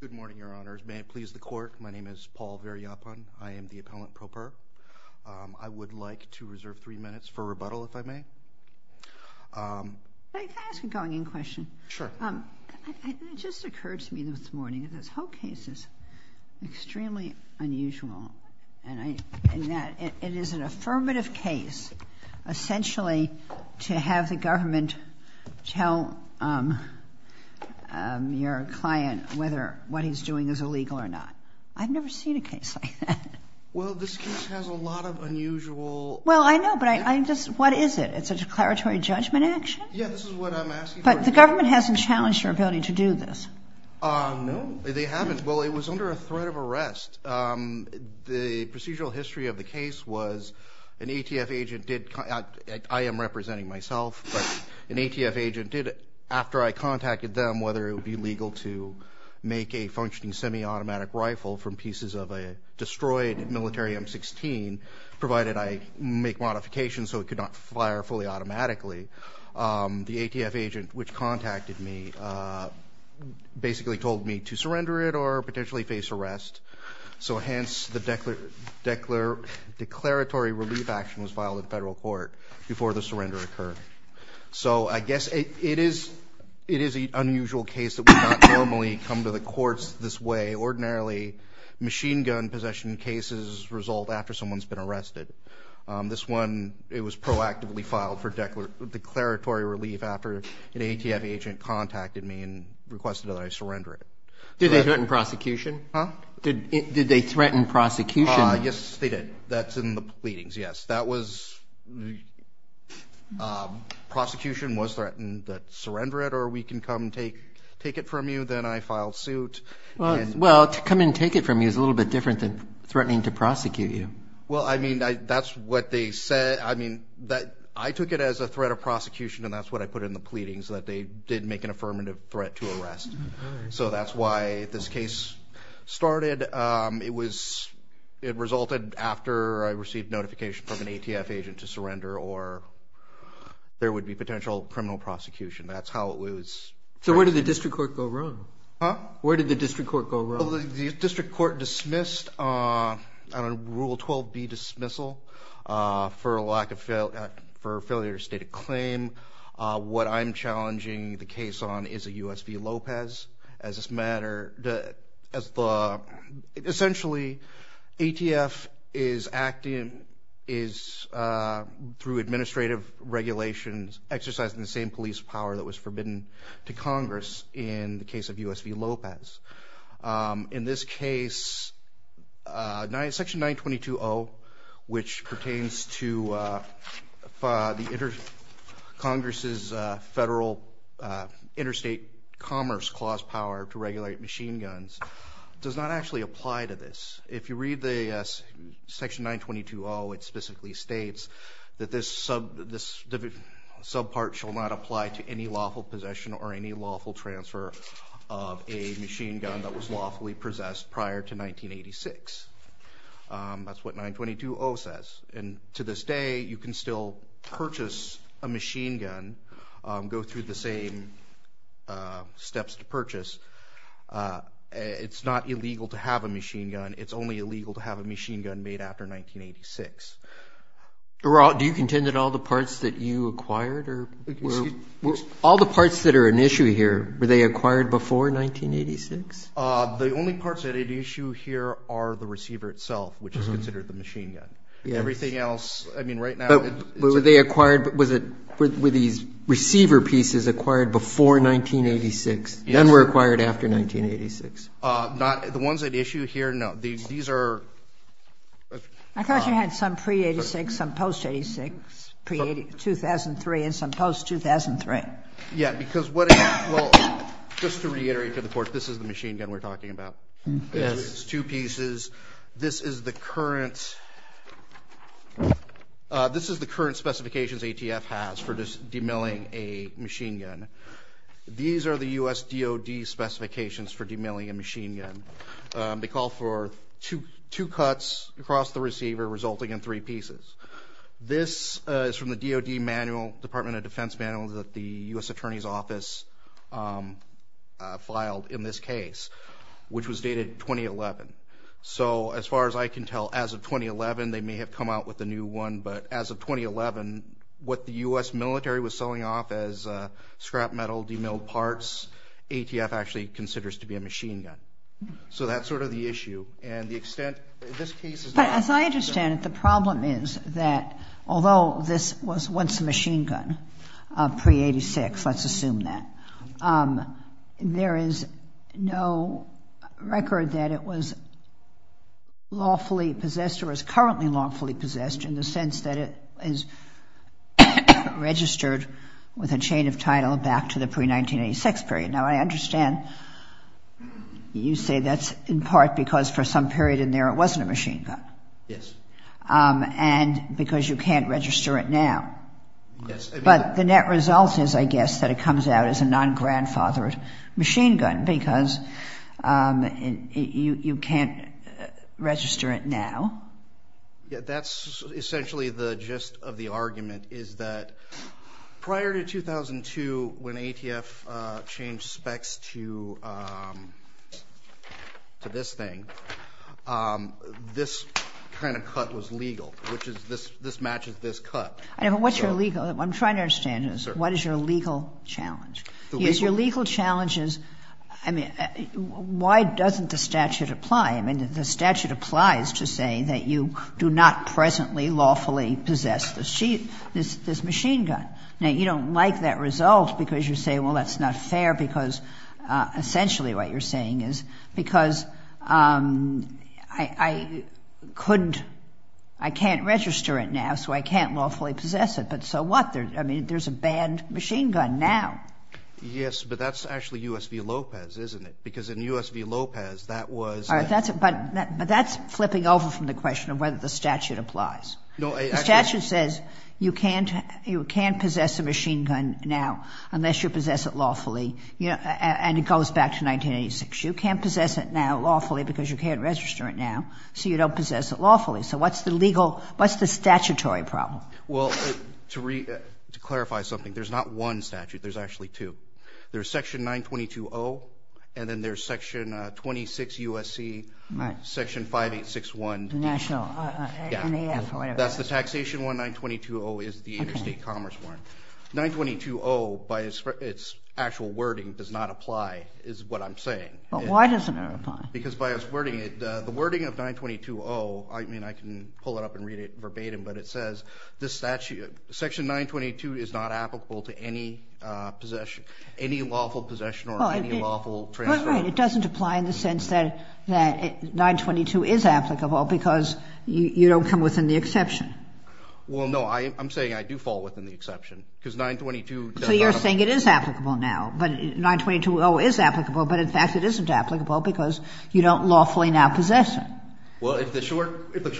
Good morning, Your Honors. May it please the Court, my name is Paul Viriyapanthu. I am the appellant pro per. I would like to reserve three minutes for rebuttal, if I may. Can I ask a going-in question? Sure. It just occurred to me this morning, this whole case is extremely unusual, and it is an affirmative case, essentially to have the government tell your client whether what he's doing is illegal or not. I've never seen a case like that. Well, this case has a lot of unusual... Well, I know, but I just, what is it? It's a declaratory judgment action? Yeah, this is what I'm asking. But the government hasn't challenged your ability to do this. No, they haven't. Well, it was under a threat of arrest. The procedural history of the case was an ATF agent did, I am representing myself, but an ATF agent did, after I contacted them, whether it would be legal to make a functioning semi-automatic rifle from pieces of a destroyed military M16, provided I make modifications so it could not fire fully automatically, the ATF agent which contacted me basically told me to surrender it or potentially face arrest. So hence, the declaratory relief action was filed in federal court before the surrender occurred. So I guess it is an unusual case that would not normally come to the courts this way. Ordinarily, machine gun possession cases result after someone's been arrested. This one, it was proactively filed for declaratory relief after an ATF agent contacted me and requested that I surrender it. Did they threaten prosecution? Huh? Did they threaten prosecution? Yes, they did. That's in the pleadings, yes. Prosecution was threatened that surrender it or we can come take it from you. Then I filed suit. Well, to come and take it from you is a little bit different than threatening to prosecute you. Well, I mean, that's what they said. I mean, I took it as a threat of prosecution and that's what I put in the pleadings, that they did make an affirmative threat to arrest. So that's why this case started. It resulted after I received notification from an ATF agent to surrender or there would be potential criminal prosecution. That's how it was. So where did the district court go wrong? Huh? Where did the district court go wrong? The district court dismissed on Rule 12b, dismissal for a lack of, for failure to state a claim. What I'm challenging the case on is a U.S. v. Lopez as this matter, as the, essentially, ATF is acting, is through administrative regulations, exercising the same police power that was forbidden to Congress in the case of U.S. v. Lopez. In this case, section 922-0, which commerce clause power to regulate machine guns, does not actually apply to this. If you read the section 922-0, it specifically states that this sub, this subpart shall not apply to any lawful possession or any lawful transfer of a machine gun that was lawfully possessed prior to 1986. Um, that's what 922-0 says. And to this day, you can still purchase a machine gun, go through the same, uh, steps to purchase. Uh, it's not illegal to have a machine gun. It's only illegal to have a machine gun made after 1986. Do you contend that all the parts that you acquired or were, all the parts that are an issue here, were they acquired before 1986? Uh, the only parts that are at issue here are the receiver itself, which is considered the machine gun. Everything else, I mean, right now, were they acquired, was it, were these receiver pieces acquired before 1986? None were acquired after 1986. Uh, not, the ones at issue here, no. These, these are. I thought you had some pre-'86, some post-'86, pre-2003, and some post-2003. Yeah, because what it, well, just to reiterate to the Court, this is the machine gun we're talking about. Yes. It's two pieces. This is the current, uh, this is the current specifications ATF has for just demilling a machine gun. These are the U.S. DoD specifications for demilling a machine gun. Um, they call for two, two cuts across the receiver, resulting in three pieces. This, uh, is from the DoD manual, Department of Defense manual, that the U.S. Attorney's Office, um, uh, filed in this case, which was dated 2011. So, as far as I can tell, as of 2011, they may have come out with a new one, but as of 2011, what the U.S. military was selling off as, uh, scrap metal, demilled parts, ATF actually considers to be a machine gun. So, that's sort of the issue, and the extent, this case is But, as I understand it, the problem is that, although this was once a machine gun, uh, pre-'86, let's assume that, um, there is no record that it was lawfully possessed, or is currently lawfully possessed, in the sense that it is registered with a chain of title back to the pre-1986 period. Now, I understand you say that's in part because for some period in there, it wasn't a machine gun. Yes. Um, and because you can't register it now. Yes. But, the net result is, I guess, that it comes out as a non-grandfathered machine gun, because, um, you can't register it now. Yeah, that's essentially the gist of the argument, is that prior to 2002, when ATF, uh, changed specs to, um, to this thing, um, this kind of cut was legal, which is this, this matches this cut. I know, but what's your legal, I'm trying to understand this. What is your legal challenge? Your legal challenge is, I mean, why doesn't the statute apply? I mean, the statute applies to say that you do not presently lawfully possess this machine gun. Now, you don't like that result because you say, well, that's not fair because, uh, essentially what you're saying is because, um, I, I couldn't, I can't register it now, so I can't lawfully possess it, but so what? There, I mean, there's a banned machine gun now. Yes, but that's actually U.S. v. Lopez, isn't it? Because in U.S. v. Lopez, that was... All right, that's it, but, but that's flipping over from the question of whether the statute applies. No, I... The statute says you can't, you can't possess a machine gun now unless you possess it lawfully, you know, and it goes back to 1986. You can't possess it now lawfully because you can't register it now, so you don't possess it lawfully. So what's the legal, what's the statutory problem? Well, to re, to clarify something, there's not one statute, there's actually two. There's section 922-0, and then there's section, uh, 26 U.S.C., section 5861. The national, uh, NAF, or whatever. That's the taxation one, 922-0 is the interstate commerce one. 922-0, by its, its actual wording does not apply, is what I'm saying. But why doesn't it apply? Because by its wording, it, uh, the wording of 922-0, I mean, I can pull it up and read it verbatim, but it says, this statute, section 922 is not applicable to any, uh, possession, any lawful possession or any lawful transfer. But, right, it doesn't apply in the sense that, that 922 is applicable because you, you don't come within the exception. Well, no, I, I'm saying I do fall within the exception because 922 does not apply. So you're saying it is applicable now, but 922-0 is applicable, but in fact it isn't applicable because you don't lawfully now possess it. Well, if the short, if the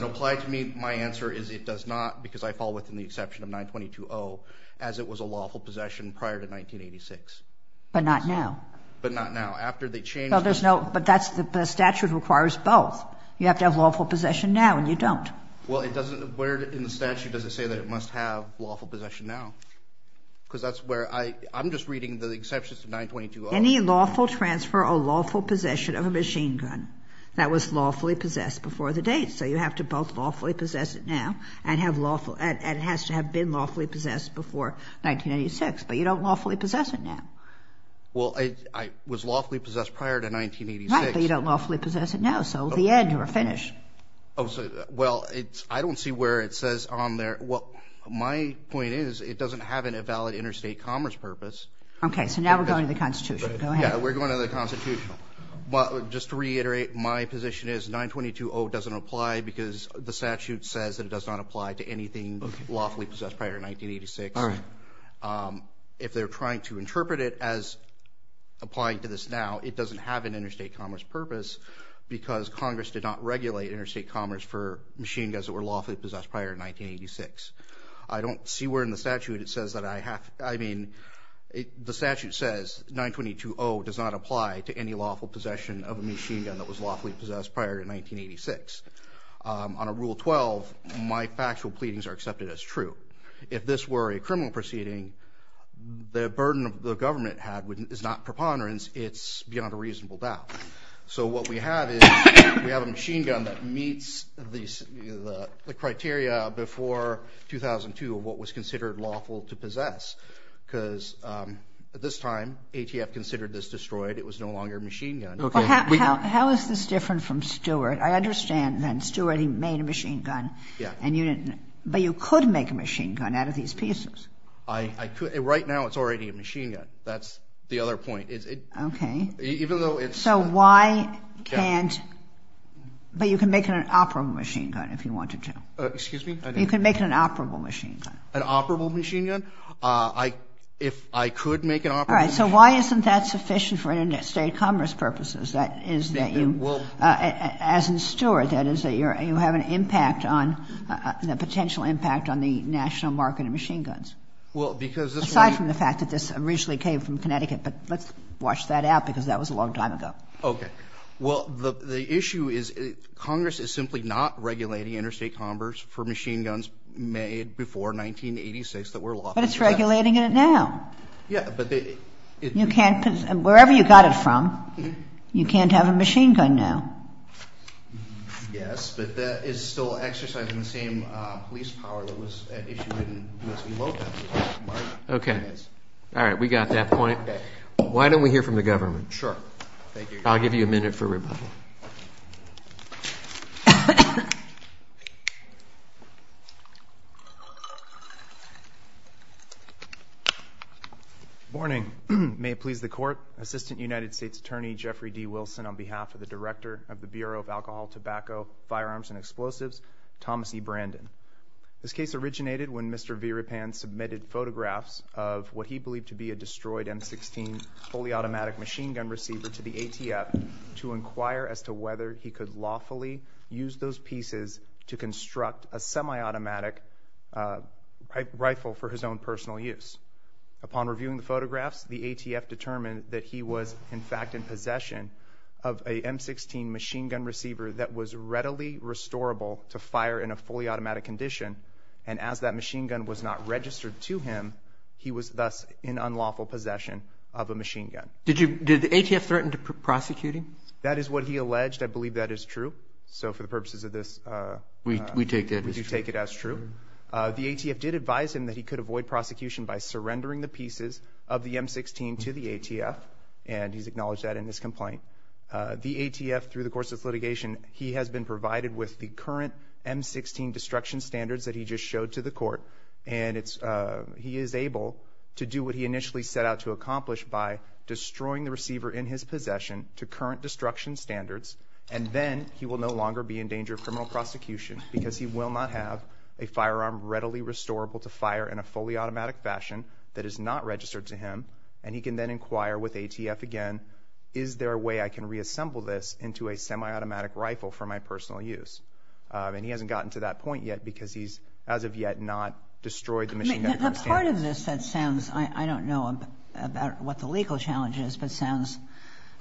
reply to me, my answer is it does not because I fall within the exception of 922-0 as it was a lawful possession prior to 1986. But not now. But not now. After the change. Well, there's no, but that's the statute requires both. You have to have lawful possession now and you don't. Well, it doesn't, where in the statute does it say that it must have lawful possession now? Because that's where I, I'm just reading the exceptions to 922-0. Any lawful transfer or lawful possession of a machine gun that was lawfully possessed before the date. So you have to both lawfully possess it now and have lawful, and it has to have been lawfully possessed before 1986. But you don't lawfully possess it now. Well, I, I was lawfully possessed prior to 1986. Right, but you don't lawfully possess it now. So at the end you're finished. Oh, so, well, it's, I don't see where it says on there, well, my point is it doesn't have a valid interstate commerce purpose. Okay. So now we're going to the Constitution. Go ahead. Yeah, we're going to the Constitution. But just to reiterate, my position is 922-0 doesn't apply because the statute says that it does not apply to anything lawfully possessed prior to 1986. All right. If they're trying to interpret it as applying to this now, it doesn't have an interstate commerce purpose because Congress did not regulate interstate commerce for machine guns that were lawfully possessed prior to 1986. I don't see where in the statute it says that I have, I mean, the statute says 922-0 doesn't apply to anything lawfully possessed prior to 1986. On a Rule 12, my factual pleadings are accepted as true. If this were a criminal proceeding, the burden of the government had is not preponderance, it's beyond a reasonable doubt. So what we have is we have a machine gun that meets the criteria before 2002 of what was considered lawful to possess. Because at this time, ATF considered this destroyed. It was no longer a machine gun. Okay. Well, how is this different from Stewart? I understand then, Stewart, he made a machine gun and you didn't, but you could make a machine gun out of these pieces. I could. Right now, it's already a machine gun. That's the other point. Okay. Even though it's So why can't, but you can make an operable machine gun if you wanted to. Excuse me? You can make an operable machine gun. An operable machine gun? If I could make an operable machine gun All right. So why isn't that sufficient for interstate commerce purposes? That is that you, as in Stewart, that is that you have an impact on, a potential impact on the national market of machine guns. Well, because this Aside from the fact that this originally came from Connecticut, but let's watch that out, because that was a long time ago. Okay. Well, the issue is Congress is simply not regulating interstate commerce for machine guns made before 1986 that were lawful to possess. But it's regulating it now. Yeah, but they You can't, wherever you got it from, you can't have a machine gun now. Yes, but that is still exercising the same police power that was issued in U.S. v. Lopez. Okay. All right. We got that point. Why don't we hear from the government? Sure. Thank you. I'll give you a minute for rebuttal. Morning. May it please the court. Assistant United States Attorney Jeffrey D. Wilson on behalf of the director of the Bureau of Alcohol, Tobacco, Firearms, and Explosives, Thomas E. Brandon. This case originated when Mr. Viripan submitted photographs of what he believed to be a destroyed M-16 fully automatic machine gun receiver to the ATF to inquire as to whether he could lawfully use those pieces to construct a semi-automatic rifle for his own personal use. Upon reviewing the photographs, the ATF determined that he was, in fact, in possession of a M-16 machine gun receiver that was readily restorable to fire in a fully automatic condition. And as that machine gun was not registered to him, he was thus in unlawful possession of a machine gun. Did you, did the ATF threaten to prosecute him? That is what he alleged. I believe that is true. So for the purposes of this, We take that as true. We do take it as true. The ATF did advise him that he could avoid prosecution by surrendering the pieces of the M-16 to the ATF, and he's acknowledged that in his complaint. The ATF, through the course of this litigation, he has been provided with the current M-16 destruction standards that he just showed to the court. And it's, he is able to do what he initially set out to accomplish by destroying the receiver in his possession to current destruction standards. And then he will no longer be in danger of criminal prosecution because he will not have a firearm readily restorable to fire in a fully automatic fashion that is not registered to him. And he can then inquire with ATF again, is there a way I can reassemble this into a semi-automatic rifle for my personal use? And he hasn't gotten to that point yet because he's, as of yet, not destroyed the machine gun. The part of this that sounds, I don't know about what the legal challenge is, but sounds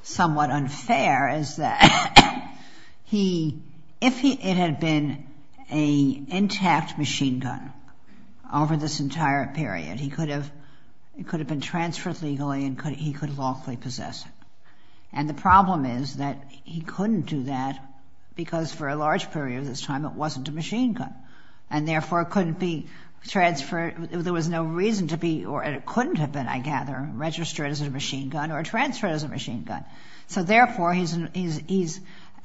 somewhat unfair, is that he, if he, it had been an intact machine gun over this entire period, he could have, it could have been transferred legally and he could lawfully possess it. And the problem is that he couldn't do that because for a large period of this time it wasn't a machine gun. And therefore, it couldn't be transferred, there was no reason to be, or it couldn't have been, I gather, registered as a machine gun or transferred as a machine gun. So therefore, he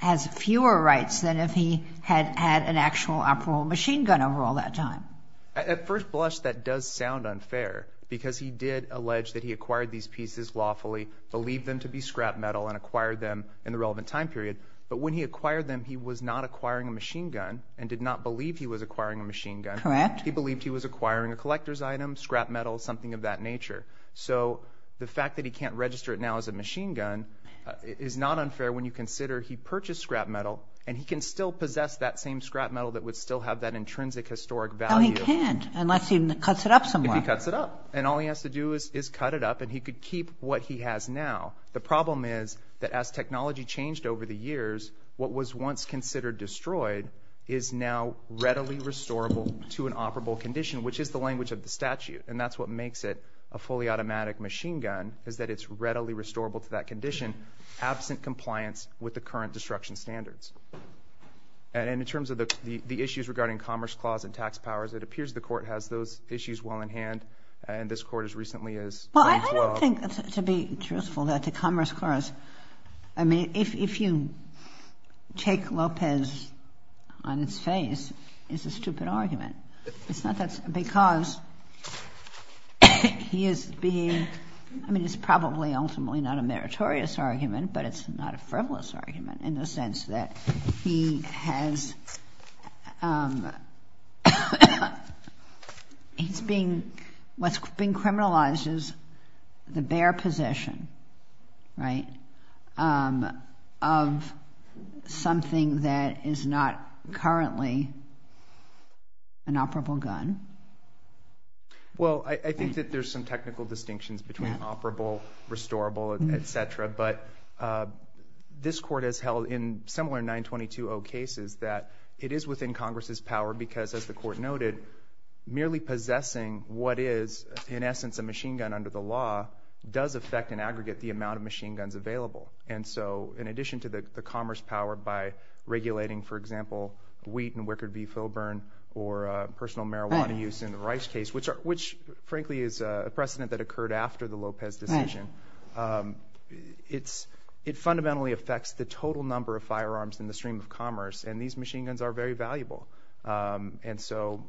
has fewer rights than if he had had an actual operable machine gun over all that time. At first blush, that does sound unfair because he did allege that he acquired these pieces lawfully, believed them to be scrap metal and acquired them in the relevant time period. But when he acquired them, he was not acquiring a machine gun and did not believe he was acquiring a machine gun. Correct. He believed he was acquiring a collector's item, scrap metal, something of that nature. So the fact that he can't register it now as a machine gun is not unfair when you consider he purchased scrap metal and he can still possess that same scrap metal that would still have that intrinsic historic value. No, he can't, unless he cuts it up somewhere. If he cuts it up. And all he has to do is cut it up and he could keep what he has now. The problem is that as technology changed over the years, what was once considered destroyed is now readily restorable to an operable condition, which is the language of the statute. And that's what makes it a fully automatic machine gun, is that it's readily restorable to that condition, absent compliance with the current destruction standards. And in terms of the issues regarding Commerce Clause and tax powers, it appears the Court has those issues well in hand. And this Court as recently as... Well, I don't think, to be truthful, that the Commerce Clause... I mean, if you take Lopez on its face, it's a stupid argument. It's not that... Because he is being... I mean, it's probably ultimately not a meritorious argument, but it's not a frivolous argument in the sense that he has... He's being... What's being criminalized is the bare possession, right, of something that is not currently an operable gun. Well, I think that there's some technical distinctions between operable, restorable, etc. But this Court has held in similar 922-0 cases that it is within Congress's power because, as the Court noted, merely possessing what is, in essence, a machine gun under the law does affect, in aggregate, the amount of machine guns available. And so, in addition to the Commerce power by regulating, for example, wheat and Wickard v. Filburn or personal marijuana use in the Rice case, which, frankly, is a precedent that occurred after the Lopez decision, it fundamentally affects the total number of firearms in the stream of commerce, and these machine guns are very valuable. And so,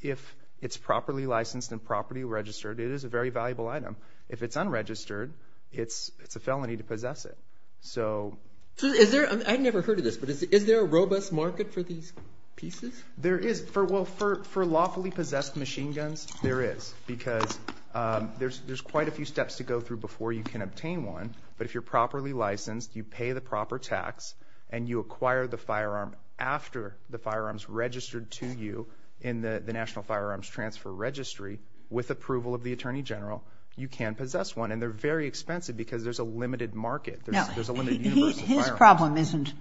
if it's properly licensed and properly registered, it is a very valuable item. If it's unregistered, it's a felony to possess it. So... I've never heard of this, but is there a robust market for these pieces? There is. Well, for lawfully possessed machine guns, there is, because there's quite a few steps to go through before you can obtain one. But if you're properly licensed, you pay the proper tax, and you acquire the firearm after the firearm's registered to you in the National Firearms Transfer Registry, with approval of the Attorney General, you can possess one. And they're very expensive because there's a limited market. There's a limited universe of firearms. His problem isn't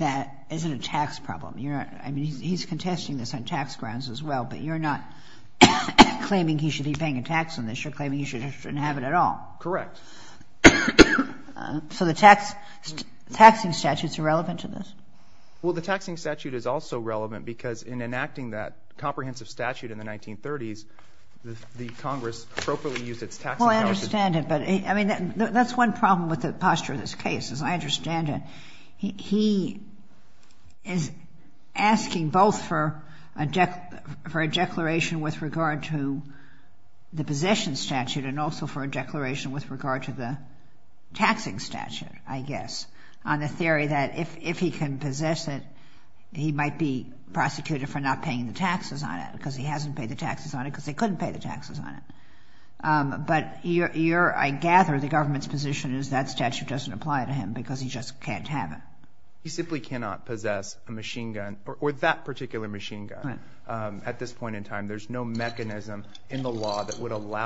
a tax problem. He's contesting this on tax grounds as well, but you're not claiming he should be paying a tax on this. You're claiming he shouldn't have it at all. Correct. So the taxing statute's irrelevant to this? Well, the taxing statute is also relevant because in enacting that comprehensive statute in the 1930s, the Congress appropriately used its taxing powers... Well, I understand it, but that's one problem with the posture of this case, is I understand it. He is asking both for a declaration with regard to the possession statute and also for a declaration with regard to the taxing statute, I guess, on the theory that if he can possess it, he might be prosecuted for not paying the taxes on it because he hasn't paid the taxes on it because they couldn't pay the taxes on it. But I gather the government's position is that statute doesn't apply to him because he just can't have it. He simply cannot possess a machine gun or that particular machine gun at this time.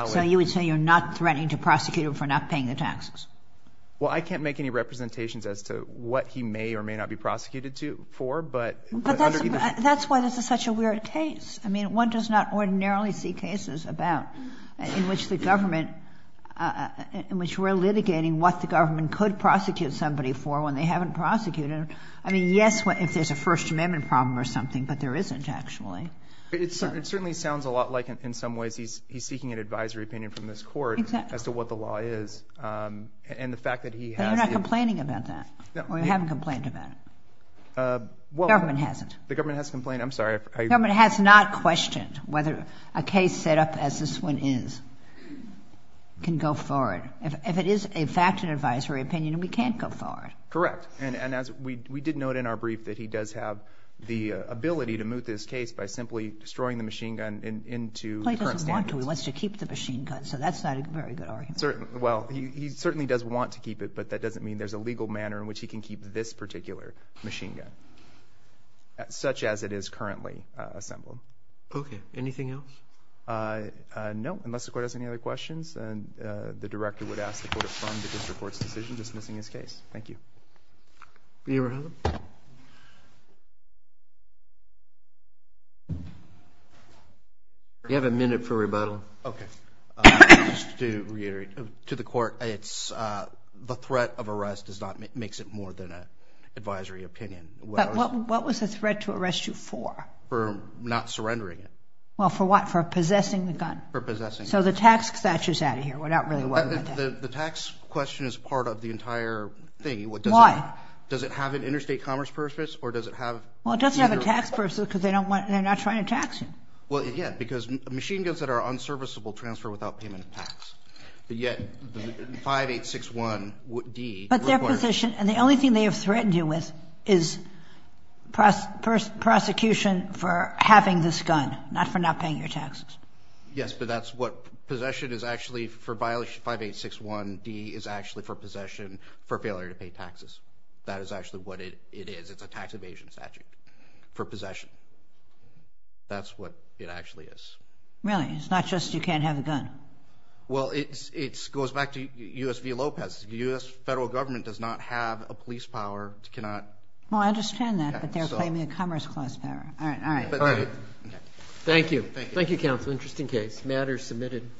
So you would say you're not threatening to prosecute him for not paying the taxes? Well, I can't make any representations as to what he may or may not be prosecuted for, but... But that's why this is such a weird case. I mean, one does not ordinarily see cases about in which the government, in which we're litigating what the government could prosecute somebody for when they haven't prosecuted him. I mean, yes, if there's a First Amendment problem or something, but there isn't, actually. It certainly sounds a lot like, in some ways, he's seeking an advisory opinion from this Court as to what the law is. And the fact that he has... But you're not complaining about that? Or you haven't complained about it? Well... The government hasn't. The government has complained. I'm sorry. The government has not questioned whether a case set up as this one is can go forward. If it is, in fact, an advisory opinion, we can't go forward. Correct. And as we did note in our brief that he does have the ability to simply destroy the machine gun into current standards. Well, he doesn't want to. He wants to keep the machine gun. So that's not a very good argument. Well, he certainly does want to keep it, but that doesn't mean there's a legal manner in which he can keep this particular machine gun, such as it is currently assembled. Okay. Anything else? No, unless the Court has any other questions. And the Director would ask the Court to fund the District Court's decision dismissing his case. Thank you. Do you have a minute for rebuttal? Okay. Just to reiterate to the Court, the threat of arrest does not make it more than an advisory opinion. But what was the threat to arrest you for? For not surrendering it. Well, for what? For possessing the gun? For possessing it. So the tax statute is out of here. We're not really working with that. The tax question is part of the entire thing. Why? Does it have an interstate commerce purpose, or does it have... Well, it doesn't have a tax purpose because they're not trying to tax you. Well, yeah, because machine guns that are unserviceable transfer without payment of tax. But yet, 5861D requires... But their position, and the only thing they have threatened you with, is prosecution for having this gun, not for not paying your taxes. Yes, but that's what... Possession is actually, for violation 5861D, is actually for possession for failure to pay taxes. That is actually what it is. It's a tax evasion statute for possession. That's what it actually is. Really? It's not just you can't have a gun? Well, it goes back to U.S. v. Lopez. The U.S. federal government does not have a police power to cannot... Well, I understand that, but they're claiming a commerce clause power. All right. All right. Thank you. Thank you, counsel. Interesting case. Matters submitted.